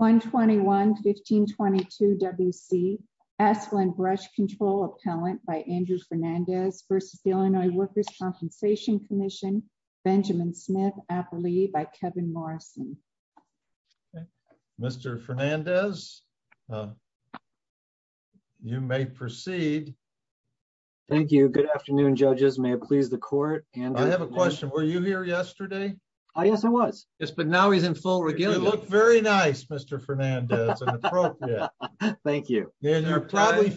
121-1522 W.C. Asplundh Brush Control Appellant by Andrew Fernandez v. Illinois Workers' Compensation Comm'n Benjamin Smith-Appley by Kevin Morrison. Mr. Fernandez, you may proceed. Thank you. Good afternoon, judges. May it please the court. I have a Fernandez. You probably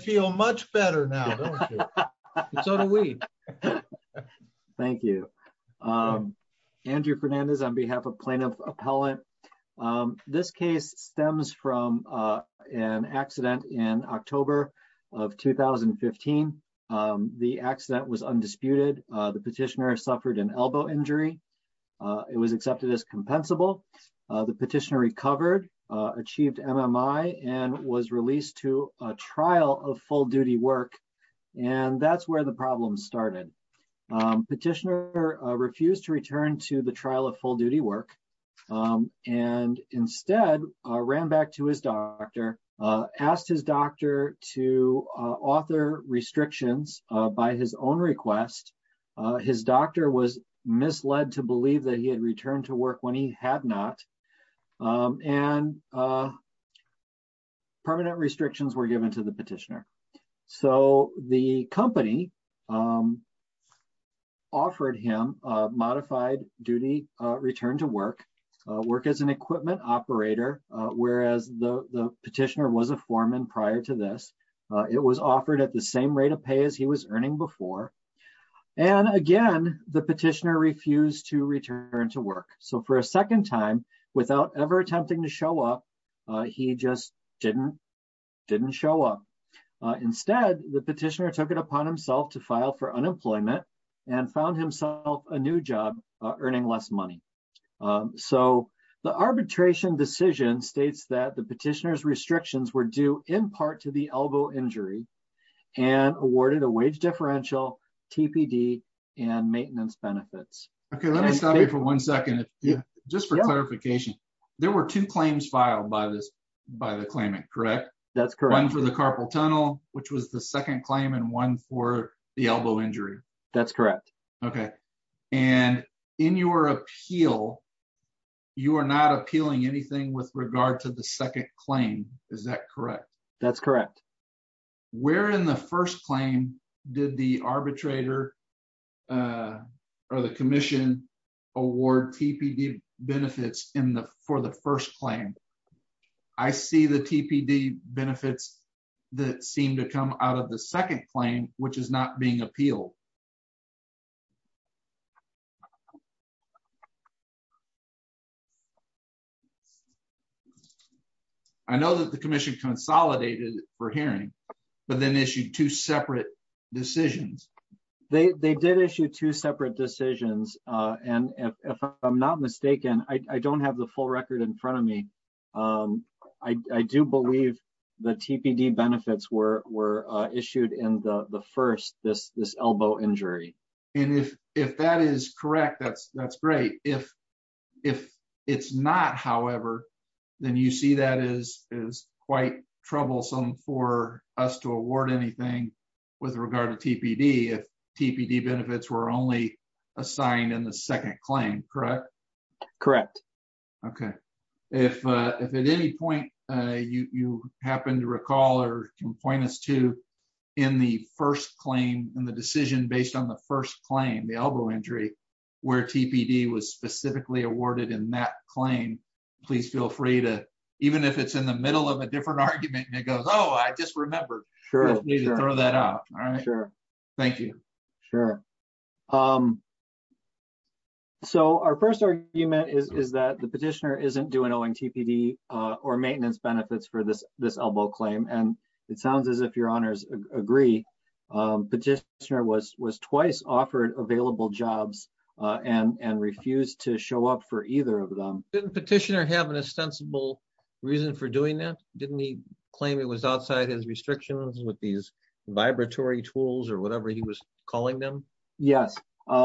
feel much better now, don't you? So do we. Thank you. Andrew Fernandez on behalf of Plaintiff Appellant. This case stems from an accident in October of 2015. The accident was undisputed. The petitioner suffered an elbow injury. It was accepted as compensable. The petitioner recovered, achieved MMI, and was released to a trial of full-duty work. And that's where the problem started. Petitioner refused to return to the trial of full-duty work and instead ran back to his doctor, asked his doctor to author restrictions by his own request. His doctor was misled to believe that he had returned to work when he had not. And permanent restrictions were given to the petitioner. So the company offered him a modified-duty return to work, work as an equipment operator, whereas the petitioner was a foreman prior to this. It was offered at the same rate of pay as he was earning before. And again, the petitioner refused to return to work. So for a second time, without ever attempting to show up, he just didn't show up. Instead, the petitioner took it upon himself to file for unemployment and found himself a new job earning less money. So the arbitration decision states that the petitioner's restrictions were due in part to the elbow injury and awarded a wage differential, TPD, and maintenance benefits. Okay, let me stop you for one second. Just for clarification, there were two claims filed by the claimant, correct? That's correct. One for the carpal tunnel, which was the second claim, and one for the elbow injury. That's correct. Okay. And in your appeal, you are not appealing anything with regard to the second claim. Is that correct? That's correct. Where in the first claim did the arbitrator or the commission award TPD benefits for the first claim? I see the TPD benefits that seem to come out of the second claim, which is not being appealed. I know that the commission consolidated for hearing, but then issued two separate decisions. They did issue two separate decisions. And if I'm not mistaken, I don't have the full record in front of me. I do believe the TPD benefits were issued in the first, this elbow injury. And if that is correct, that's great. If it's not, however, then you see that is quite troublesome for us to award anything with regard to TPD if TPD benefits were only assigned in the second claim, correct? Correct. Okay. If at any point you happen to recall or can point us to in the first claim and the decision based on the first claim, the elbow injury, where TPD was specifically awarded in that claim, please feel free to, even if it's in the middle of a different argument and Oh, I just remembered. Sure. Thank you. Sure. So our first argument is, is that the petitioner isn't doing TPD or maintenance benefits for this, this elbow claim. And it sounds as if your honors agree petitioner was, was twice offered available jobs and, and refused to show up for either of them. Didn't petitioner have an reason for doing that? Didn't he claim it was outside his restrictions with these vibratory tools or whatever he was calling them? Yes.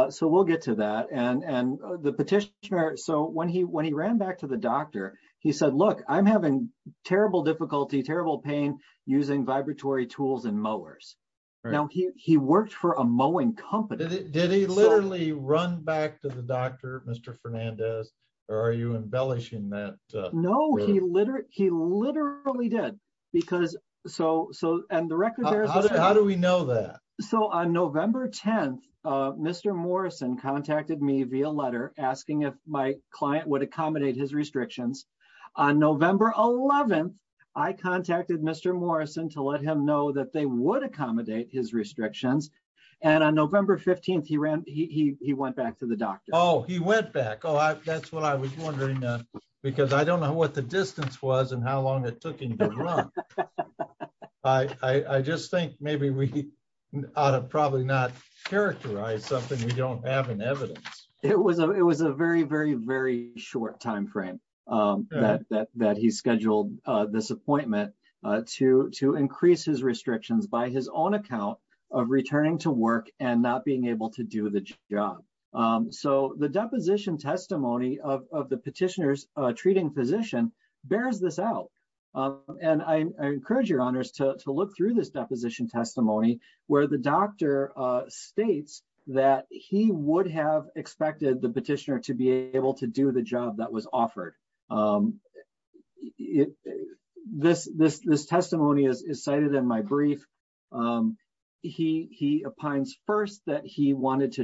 So we'll get to that and, and the petitioner. So when he, when he ran back to the doctor, he said, look, I'm having terrible difficulty, terrible pain using vibratory tools and mowers. Now he worked for a mowing company. Did he literally run back to the doctor, Mr. Fernandez, or are you embellishing that? No, he literally, he literally did because so, so, and the record bears, how do we know that? So on November 10th, Mr. Morrison contacted me via letter asking if my client would accommodate his restrictions. On November 11th, I contacted Mr. Morrison to let him know that they would he, he went back to the doctor. Oh, he went back. Oh, that's what I was wondering because I don't know what the distance was and how long it took him to run. I just think maybe we ought to probably not characterize something. We don't have an evidence. It was a, it was a very, very, very short timeframe that, that, that he scheduled this appointment to, to increase his restrictions by his own account of returning to work and not being able to do the job. So the deposition testimony of, of the petitioner's treating physician bears this out. And I encourage your honors to look through this deposition testimony where the doctor states that he would have expected the petitioner to be able to do the wanted to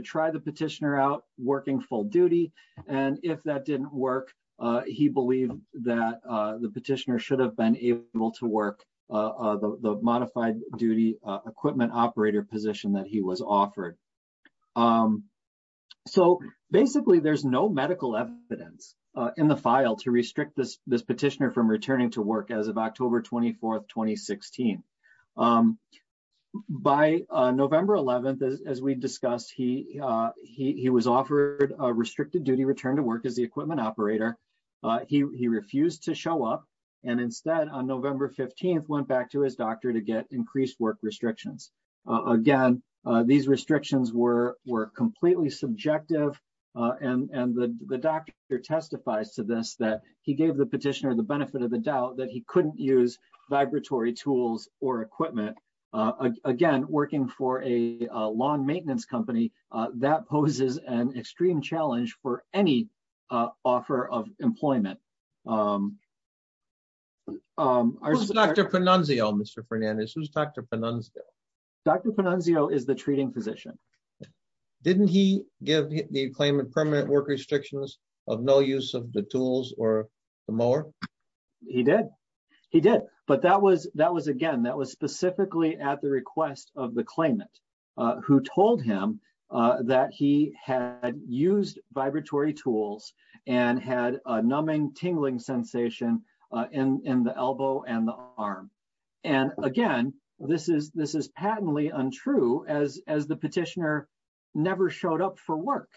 try the petitioner out working full duty. And if that didn't work he believed that the petitioner should have been able to work the modified duty equipment operator position that he was offered. So basically there's no medical evidence in the file to restrict this, petitioner from returning to work as of October 24th, 2016. By November 11th, as we discussed, he was offered a restricted duty return to work as the equipment operator. He refused to show up and instead on November 15th, went back to his doctor to get increased work restrictions. Again, these restrictions were, were completely subjective. And the doctor testifies to this that he gave the petitioner, the benefit of the doubt that he couldn't use vibratory tools or equipment. Again, working for a lawn maintenance company that poses an extreme challenge for any offer of employment. Who's Dr. Pannunzio, Mr. Fernandez? Who's Dr. Pannunzio? Dr. Pannunzio is the treating physician. Didn't he give the claimant permanent work restrictions of no use of the tools or the mower? He did. He did. But that was, that was again, that was specifically at the request of the claimant who told him that he had used vibratory tools and had a numbing tingling sensation in, in the elbow and the arm. And again, this is, this is patently untrue as, as the petitioner never showed up for work.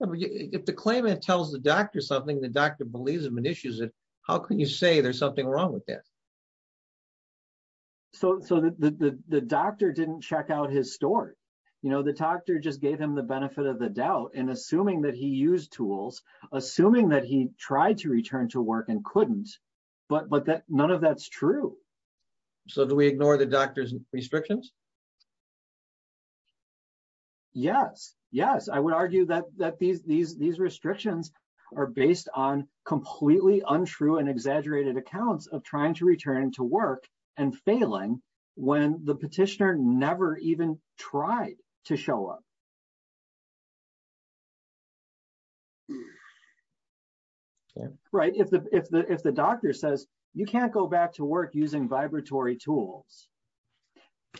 If the claimant tells the doctor something, the doctor believes him and issues it, how can you say there's something wrong with that? So, so the, the, the doctor didn't check out his store. You know, the doctor just gave him the benefit of the doubt and assuming that he used tools, assuming that he tried to return to work and couldn't, but, but that none of that's true. So do we ignore the doctor's restrictions? Yes. Yes. I would argue that, that these, these, these restrictions are based on completely untrue and exaggerated accounts of trying to return to work and failing when the petitioner never even tried to show up. Yeah. Right. If the, if the, if the doctor says you can't go back to work using vibratory tools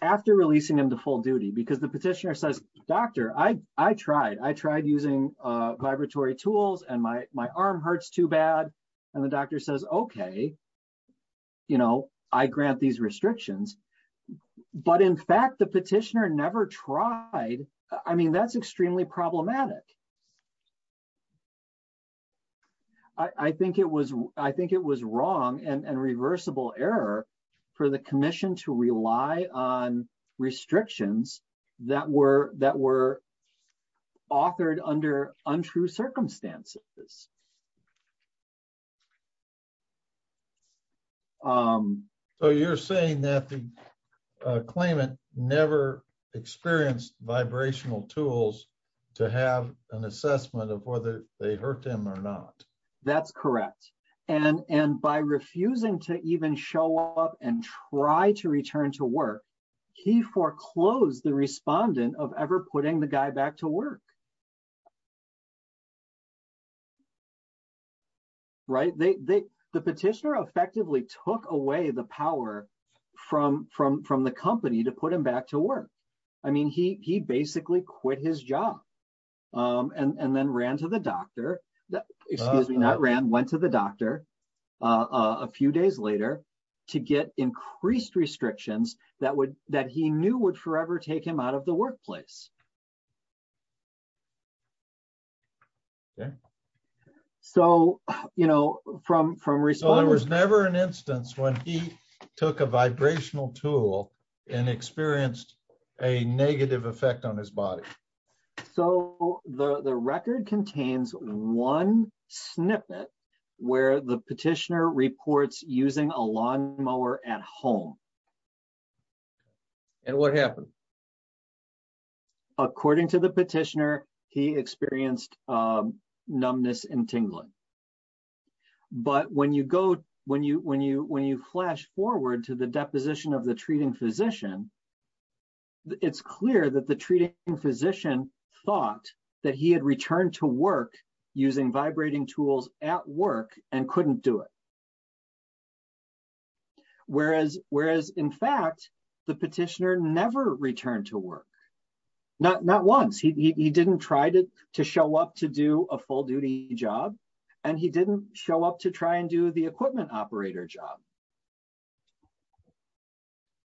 after releasing him to full duty, because the petitioner says, doctor, I, I tried, I tried using vibratory tools and my, my arm hurts too bad. And the doctor says, okay, you know, I grant these restrictions, but in fact, the petitioner never tried. I mean, that's extremely problematic. I think it was, I think it was wrong and reversible error for the commission to rely on restrictions that were, that were authored under untrue circumstances. So you're saying that the claimant never experienced vibrational tools to have an assessment of whether they hurt them or not. That's correct. And, and by refusing to even show up and try to return to work, he foreclosed the respondent of ever putting the guy back to work. Right. They, they, the petitioner effectively took away the power from, from, from the company to put him back to work. I mean, he, he basically quit his job and then ran to the doctor, excuse me, not ran, went to the doctor a few days later to get increased restrictions that would, that he knew would forever take him out of the workplace. Okay. So, you know, from, from response, there was never an instance when he took a vibrational tool and experienced a negative effect on his body. So the, the record contains one snippet where the petitioner reports using a lawnmower at home. And what happened? According to the petitioner, he experienced numbness and tingling. But when you go, when you, when you, when you flash forward to the deposition of the treating physician, it's clear that the treating physician thought that he had returned to work using vibrating tools at work and couldn't do it. Whereas, whereas in fact, the petitioner never returned to work. Not, not once he, he, he didn't try to, to show up to do a full duty job and he didn't show up to try and do the equipment operator job.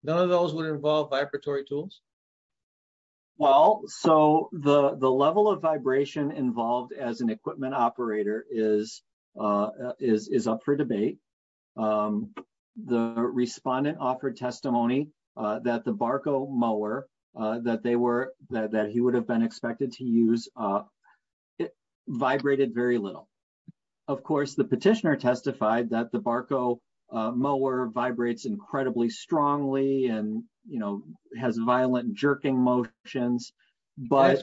None of those would involve vibratory tools. Well, so the, the level of vibration involved as equipment operator is, is, is up for debate. The respondent offered testimony that the Barco mower that they were, that he would have been expected to use, it vibrated very little. Of course, the petitioner testified that the Barco mower vibrates incredibly strongly and, you know, has violent jerking motions, but...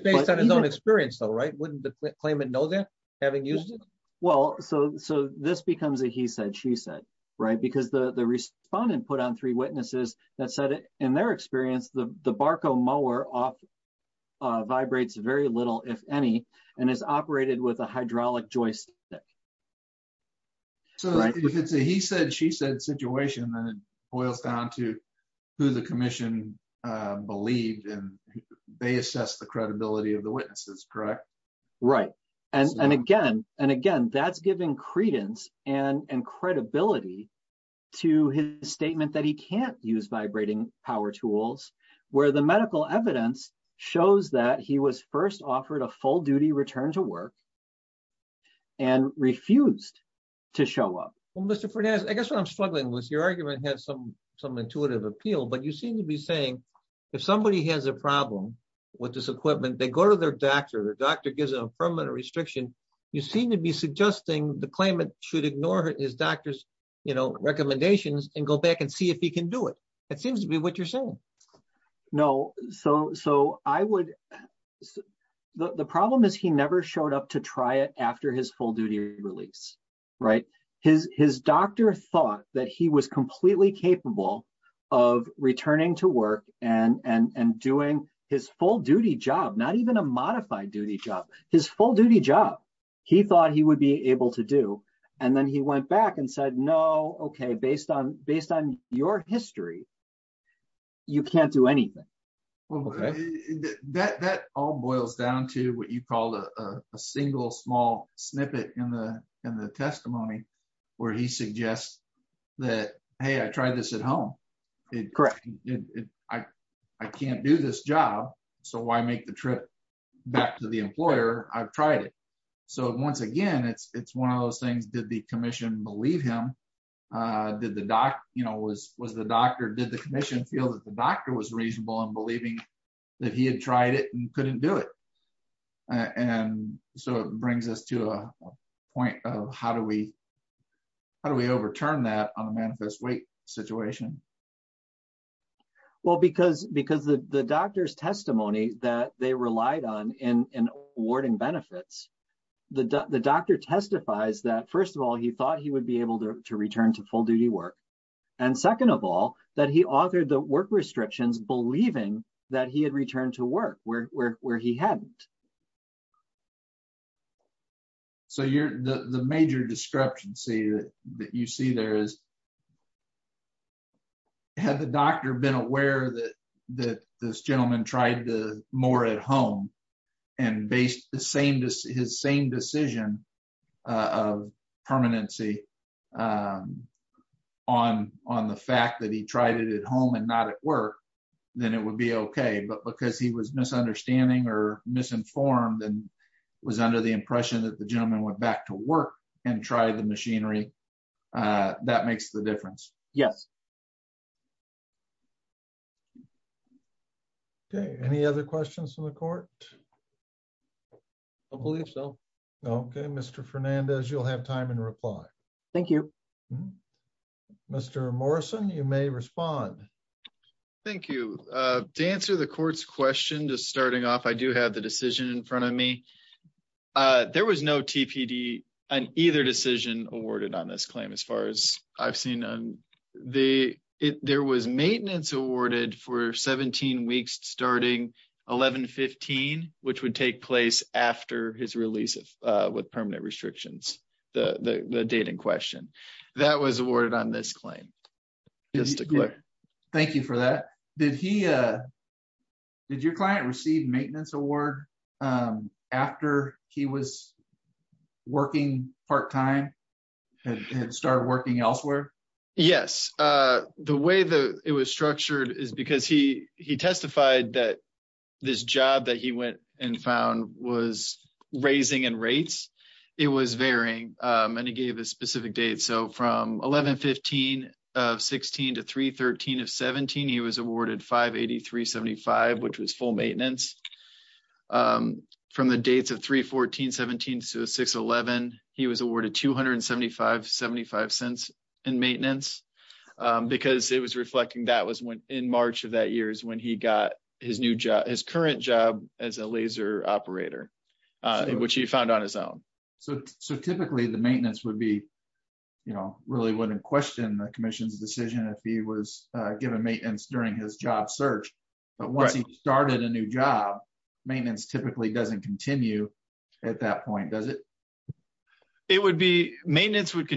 Having used it? Well, so, so this becomes a he said, she said, right? Because the, the respondent put on three witnesses that said in their experience, the Barco mower vibrates very little, if any, and is operated with a hydraulic joist stick. So if it's a he said, she said situation, then it boils down to who the commission believed and they assess the credibility of the witnesses, correct? Right. And, and again, and again, that's giving credence and, and credibility to his statement that he can't use vibrating power tools where the medical evidence shows that he was first offered a full duty return to work and refused to show up. Well, Mr. Fernandez, I guess what I'm saying, if somebody has a problem with this equipment, they go to their doctor, the doctor gives them a permanent restriction. You seem to be suggesting the claimant should ignore his doctor's, you know, recommendations and go back and see if he can do it. It seems to be what you're saying. No. So, so I would, the problem is he never showed up to try it after his full duty release, right? His, his doctor thought that he was completely capable of returning to work and, and, and doing his full duty job, not even a modified duty job, his full duty job, he thought he would be able to do. And then he went back and said, no, okay. Based on, based on your history, you can't do anything. Well, that, that all boils down to what you called a, a single small snippet in the, in the testimony where he suggests that, hey, I tried this at home. Correct. I can't do this job. So why make the trip back to the employer? I've tried it. So once again, it's, it's one of those things, did the commission believe him? Did the doc, you know, was, was the doctor, did the commission feel that the doctor was and so it brings us to a point of how do we, how do we overturn that on a manifest weight situation? Well, because, because the, the doctor's testimony that they relied on in, in awarding benefits, the doc, the doctor testifies that first of all, he thought he would be able to return to full duty work. And second of all, that he authored the work restrictions, believing that he had returned to work where, where, where he hadn't. So you're the, the major discrepancy that you see there is, had the doctor been aware that, that this gentleman tried to more at home and based the same, his same decision of permanency on, on the fact that he tried it at home and not at work, then it would be okay. But because he was misunderstanding or misinformed and was under the impression that the gentleman went back to work and tried the machinery, that makes the difference. Yes. Okay. Any other questions from the court? I believe so. Okay. Mr. Fernandez, you'll have time and reply. Thank you, Mr. Morrison. You may respond. Thank you. To answer the court's question, just starting off, I do have the decision in front of me. There was no TPD on either decision awarded on this claim. As far as I've seen on the, there was maintenance awarded for 17 weeks, starting 1115, which would take place after his release with permanent restrictions, the date in question that was awarded on this claim. Thank you for that. Did he, did your client receive maintenance award after he was working part-time and started working elsewhere? Yes. The way that it was structured is because he, he testified that this job that he went and found was raising in rates. It was varying, and he gave a specific date. So from 1115 of 16 to 313 of 17, he was awarded 583.75, which was full maintenance. From the dates of 314.17 to 611, he was awarded 275.75 cents maintenance. Because it was reflecting that was when, in March of that year is when he got his new job, his current job as a laser operator, which he found on his own. So typically the maintenance would be, you know, really wouldn't question the commission's decision if he was given maintenance during his job search. But once he started a new job, maintenance typically doesn't continue at that point, does it? It would be, maintenance would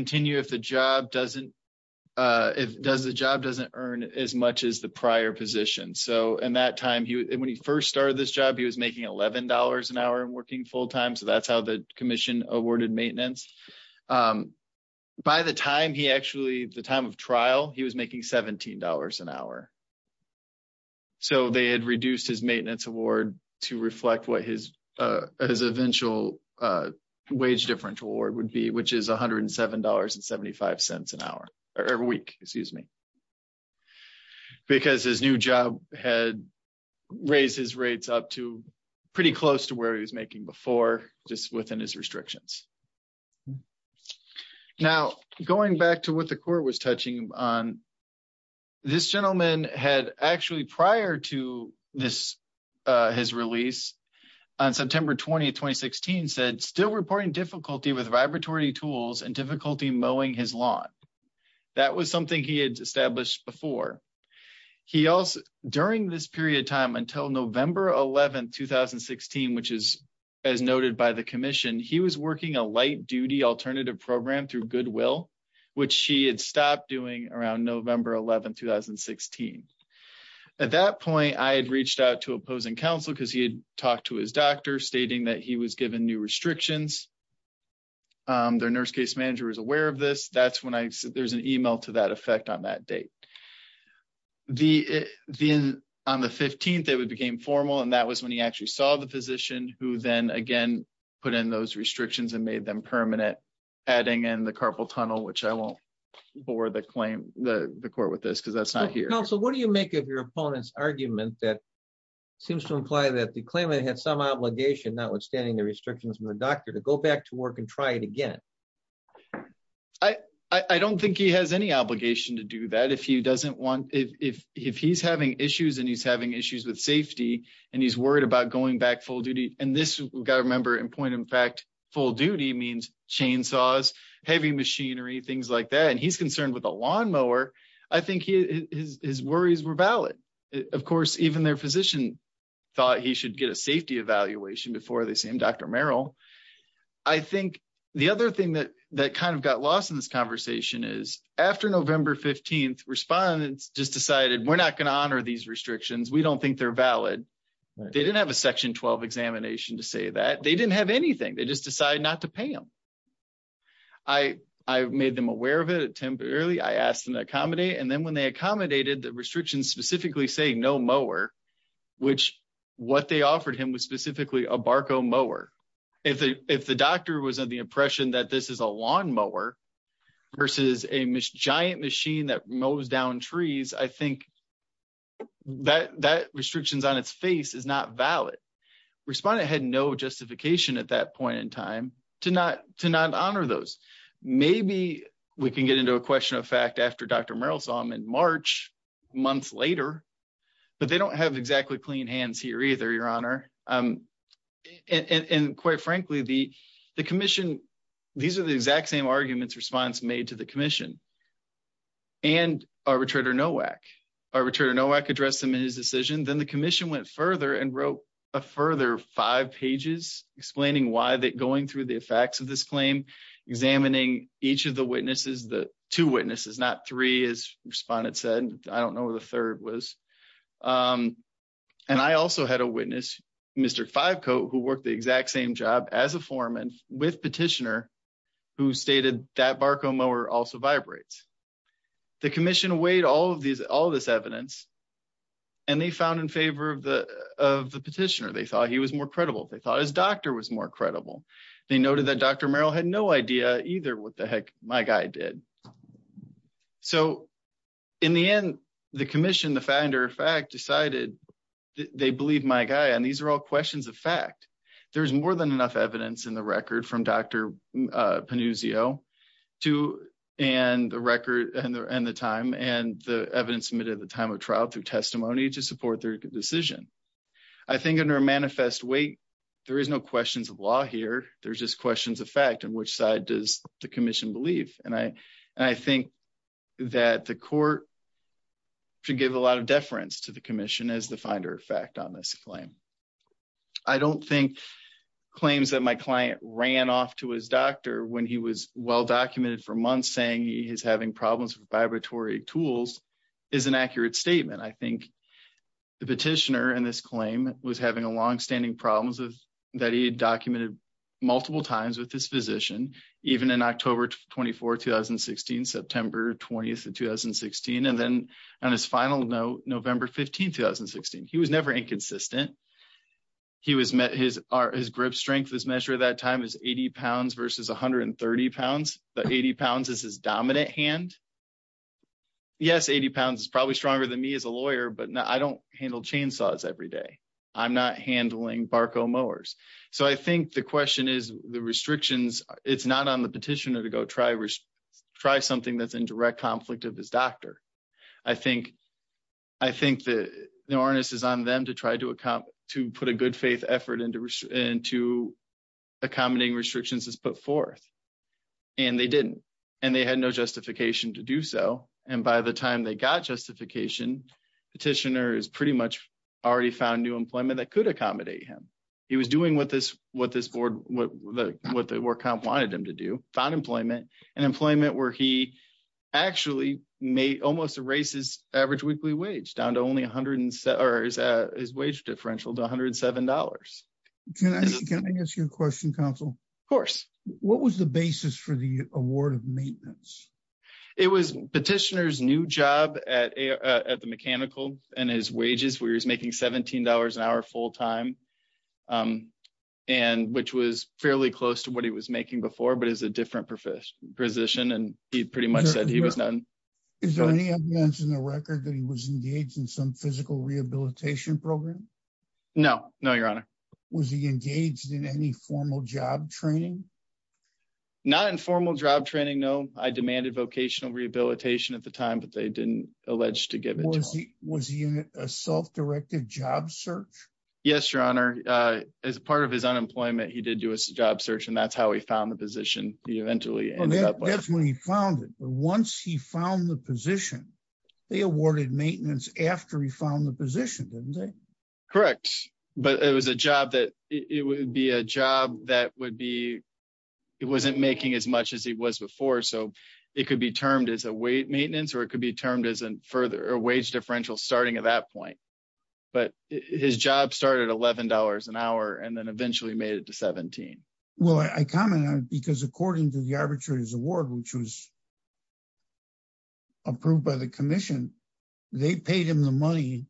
if, does the job doesn't earn as much as the prior position. So in that time, when he first started this job, he was making $11 an hour and working full-time. So that's how the commission awarded maintenance. By the time he actually, the time of trial, he was making $17 an hour. So they had reduced his maintenance award to reflect what his, his eventual wage differential would be, which is $107.75 an hour, or a week, excuse me. Because his new job had raised his rates up to pretty close to where he was making before, just within his restrictions. Now, going back to what the court was touching on, this gentleman had actually prior to this, his release on September 20, 2016, said still reporting difficulty with vibratory tools and difficulty mowing his lawn. That was something he had established before. He also, during this period of time until November 11, 2016, which is as noted by the commission, he was working a light duty alternative program through Goodwill, which she had stopped doing around November 11, 2016. At that point, I had reached out to opposing counsel because he had talked to his doctor stating that he was given new restrictions. Their nurse case manager was aware of this. That's when I, there's an email to that effect on that date. The, then on the 15th, it would became formal. And that was when he actually saw the physician who then again, put in those restrictions and made them permanent, adding in the carpal tunnel, which I won't bore the claim, the court with this, because that's not here. So what do you make of your opponent's argument that seems to imply that the claimant had some obligation notwithstanding the restrictions from the doctor to go back to work and try it again? I don't think he has any obligation to do that. If he doesn't want, if he's having issues and he's having issues with safety and he's worried about going back full duty. And this we've got to remember in point of fact, full duty means chainsaws, heavy machinery, things like that. He's concerned with a lawnmower. I think his worries were valid. Of course, even their physician thought he should get a safety evaluation before they see him, Dr. Merrill. I think the other thing that kind of got lost in this conversation is after November 15th, respondents just decided we're not going to honor these restrictions. We don't think they're valid. They didn't have a section 12 examination to say that they didn't have anything. They just I asked them to accommodate. And then when they accommodated the restrictions specifically say no mower, which what they offered him was specifically a Barco mower. If the doctor was of the impression that this is a lawnmower versus a giant machine that mows down trees, I think that restrictions on its face is not valid. Respondent had no justification at that point in a question of fact after Dr. Merrill saw him in March, months later, but they don't have exactly clean hands here either, Your Honor. And quite frankly, the commission, these are the exact same arguments response made to the commission and arbitrator Nowak. Arbitrator Nowak addressed them in his decision. Then the commission went further and wrote a further five pages explaining why that going through the effects of this claim, examining each of the witnesses, the two witnesses, not three, as respondents said. I don't know who the third was. And I also had a witness, Mr. Fivecoat, who worked the exact same job as a foreman with petitioner who stated that Barco mower also vibrates. The commission weighed all of these, all this evidence, and they found in favor of the petitioner. They thought he was more credible. They thought his doctor was more credible. They noted that Dr. Merrill had no idea either what the heck my guy did. So in the end, the commission, the finder of fact, decided they believe my guy. And these are all questions of fact. There's more than enough evidence in the record from Dr. Pannuzio and the record and the time and the evidence submitted at the time of trial through decision. I think under a manifest weight, there is no questions of law here. There's just questions of fact. And which side does the commission believe? And I, and I think that the court should give a lot of deference to the commission as the finder of fact on this claim. I don't think claims that my client ran off to his doctor when he was well-documented for months saying he is having problems with vibratory tools is an accurate statement. I think the petitioner in this claim was having a long-standing problems that he had documented multiple times with this physician, even in October 24, 2016, September 20th of 2016. And then on his final note, November 15, 2016, he was never inconsistent. He was met his, his grip strength, his measure at that time is 80 pounds versus 130 pounds. The 80 pounds is his dominant hand. Yes. 80 pounds is probably stronger than me as a lawyer, but I don't handle chainsaws every day. I'm not handling Barco mowers. So I think the question is the restrictions. It's not on the petitioner to go try, try something that's in direct conflict of his doctor. I think, I think that the to put a good faith effort into, into accommodating restrictions is put forth and they didn't, and they had no justification to do so. And by the time they got justification, petitioner is pretty much already found new employment that could accommodate him. He was doing what this, what this board, what the, what the work comp wanted him to do, found employment and employment where he actually may almost erase his average weekly wage down to only or his wage differential to $107. Can I, can I ask you a question council? Of course. What was the basis for the award of maintenance? It was petitioner's new job at, at the mechanical and his wages where he was making $17 an hour full time. And which was fairly close to what he was making before, but as a different profession position, and he pretty much said he was done. Is there any evidence in the record that he was engaged in some physical rehabilitation program? No, no, your honor. Was he engaged in any formal job training? Not in formal job training. No, I demanded vocational rehabilitation at the time, but they didn't allege to give it. Was he, was he in a self-directed job search? Yes, your honor. As part of his unemployment, he did do a job search and that's how he found the position. That's when he found it. But once he found the position, they awarded maintenance after he found the position, didn't they? Correct. But it was a job that it would be a job that would be, it wasn't making as much as he was before. So it could be termed as a weight maintenance or it could be termed as a further wage differential starting at that point. But his job started at $11 an hour and then eventually made it to 17. Well, I commented on it because according to the arbitrator's award, which was approved by the commission, they paid him the money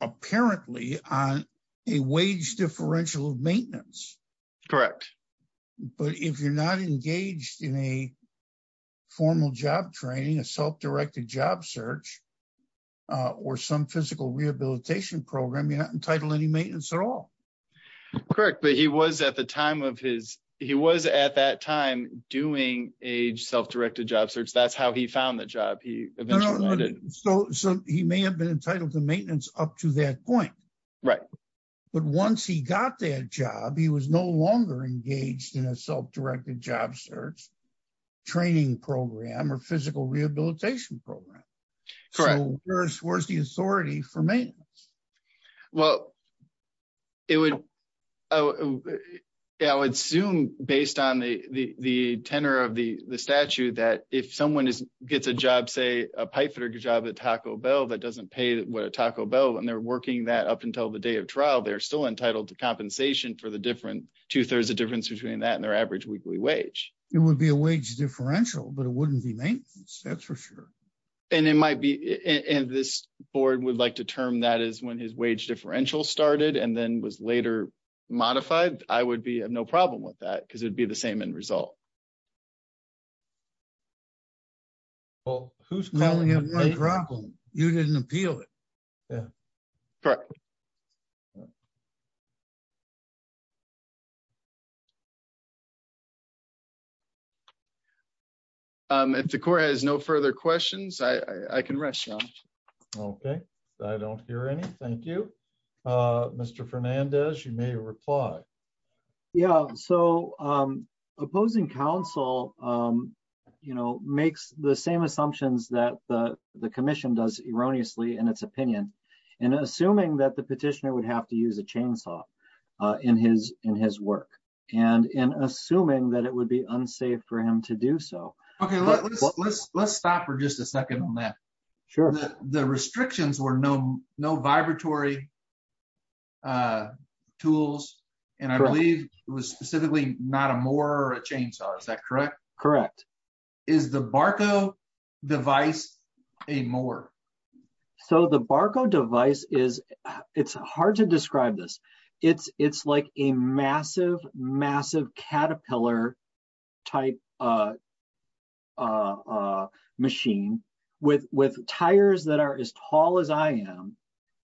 apparently on a wage differential of maintenance. Correct. But if you're not engaged in a formal job training, a self-directed job search, or some physical rehabilitation program, you're not entitled to any maintenance at all. Correct. But he was at the time of his, he was at that time doing a self-directed job search. That's how he found the job. So he may have been entitled to maintenance up to that point. Right. But once he got that job, he was no longer engaged in a self-directed job search training program or physical rehabilitation program. So where's the authority for maintenance? Well, I would assume based on the tenor of the statute that if someone gets a job, say a pipe fitter job at Taco Bell that doesn't pay what a Taco Bell and they're working that up until the day of trial, they're still entitled to compensation for the different two-thirds of difference between that and their average weekly wage. It would be a wage differential, but it wouldn't be maintenance. That's for sure. And it might be, and this board would like to that is when his wage differential started and then was later modified, I would be no problem with that because it'd be the same end result. Well, who's going to have a problem? You didn't appeal it. Yeah. Correct. If the court has no further questions, I can rest now. Okay. I don't hear any. Thank you, Mr. Fernandez. You may reply. Yeah. So opposing counsel makes the same assumptions that the commission does erroneously in its opinion and assuming that the petitioner would have to use a chainsaw in his work and in assuming that it would be unsafe for him to do so. Okay. Let's stop for just a second on that. Sure. The restrictions were no vibratory tools, and I believe it was specifically not a mower or a chainsaw. Is that correct? Correct. Is the Barco device a mower? So the Barco device is, it's hard to describe this. It's like a massive, massive caterpillar type machine with tires that are as tall as I am.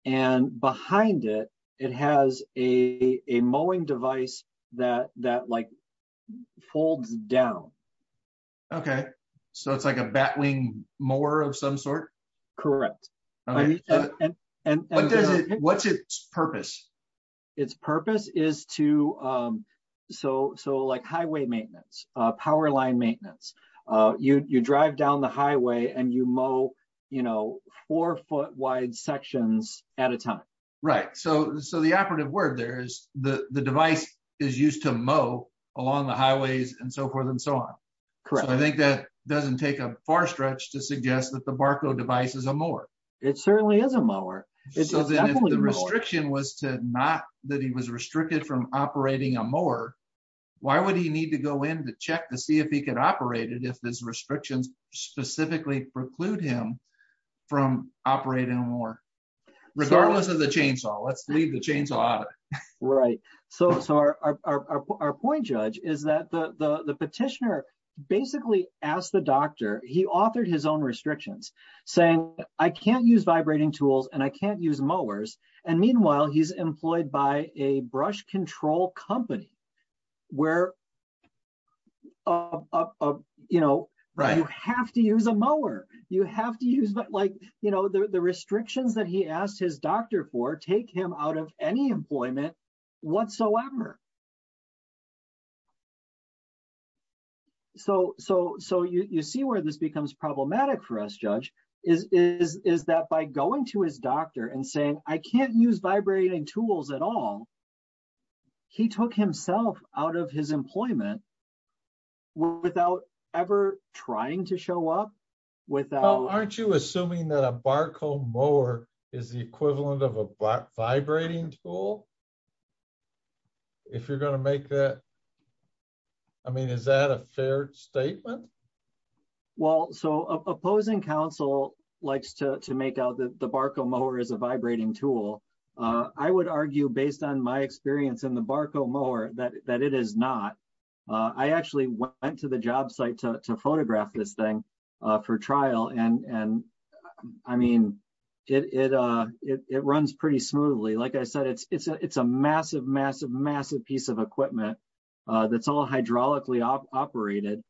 And behind it, it has a mowing device that folds down. Okay. So it's like a batwing mower of some sort? Correct. What's its purpose? Its purpose is to, so like highway maintenance, power line maintenance, you drive down the highway and you mow four foot wide sections at a time. Right. So the operative word there is the device is used to mow along the highways and so forth and so on. So I think that doesn't take a far stretch to suggest that the Barco device is a mower. So then if the restriction was to not, that he was restricted from operating a mower, why would he need to go in to check to see if he could operate it if this restrictions specifically preclude him from operating a mower? Regardless of the chainsaw, let's leave the chainsaw out of it. Right. So our point, Judge, is that the petitioner basically asked the doctor, he authored his own restrictions saying, I can't use vibrating tools and I can't use mowers. And meanwhile, he's employed by a brush control company where you have to use a mower, you have to use like, you know, the restrictions that he asked his doctor for take him out of any employment whatsoever. So you see where this becomes problematic for us, Judge, is that by going to his doctor and saying, I can't use vibrating tools at all. He took himself out of his employment without ever trying to show up. Well, aren't you assuming that a Barco mower is the equivalent of a vibrating tool? If you're going to make that, I mean, is that a fair statement? Well, so opposing counsel likes to make out that the Barco mower is a vibrating tool. I would argue based on my experience in the Barco mower that it is not. I actually went to the job site to photograph this thing for trial. And I mean, it runs pretty smoothly. Like I said, it's a massive, massive, massive piece of equipment that's all hydraulically operated.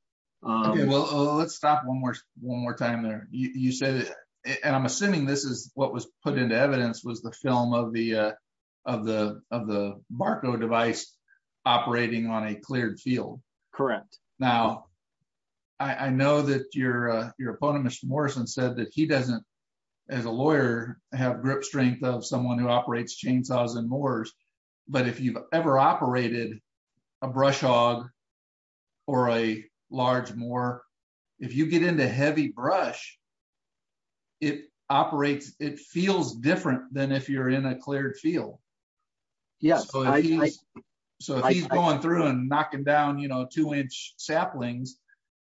Well, let's stop one more time there. And I'm assuming this is what was put into evidence was the film of the Barco device operating on a cleared field. Correct. Now, I know that your opponent, Mr. Morrison, said that he doesn't, as a lawyer, have grip chainsaws and mowers. But if you've ever operated a brush hog or a large mower, if you get into heavy brush, it operates, it feels different than if you're in a cleared field. So if he's going through and knocking down, you know, two inch saplings,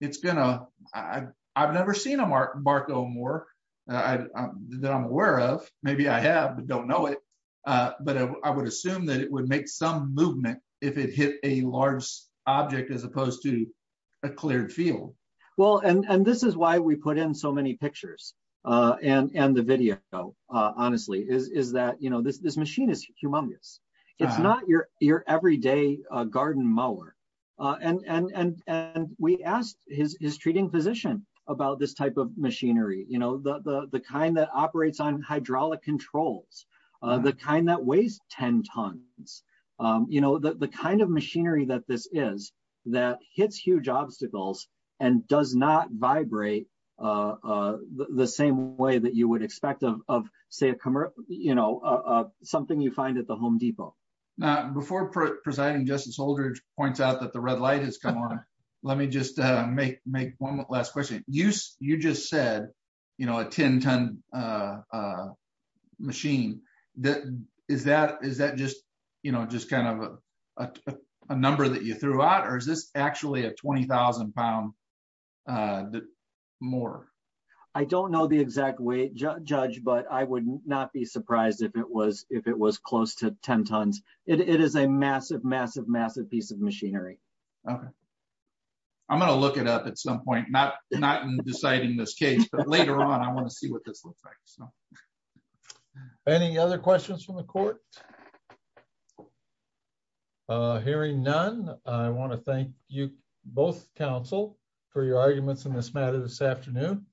it's gonna, I've never seen a Barco mower that I'm aware of. Maybe I have, but don't know it. But I would assume that it would make some movement if it hit a large object as opposed to a cleared field. Well, and this is why we put in so many pictures and the video, honestly, is that, you know, this machine is humongous. It's not your everyday garden mower. And we asked his treating physician about this type of machinery, you know, the kind that operates on hydraulic controls, the kind that weighs 10 tons, you know, the kind of machinery that this is that hits huge obstacles and does not vibrate the same way that you would expect of, say, a commercial, you know, something you find at the Home Depot. Before presiding Justice Holder points out that the red light has come on, let me just make one last question. You just said, you know, a 10 ton machine. Is that just, you know, just kind of a number that you threw out? Or is this actually a 20,000 pound mower? I don't know the exact weight, Judge, but I would not be surprised if it was close to 10 tons. It is a massive, massive, massive piece of machinery. I'm going to look it up at some point, not in deciding this case, but later on, I want to see what this looks like. Any other questions from the court? Hearing none, I want to thank you both, counsel, for your arguments in this matter this afternoon.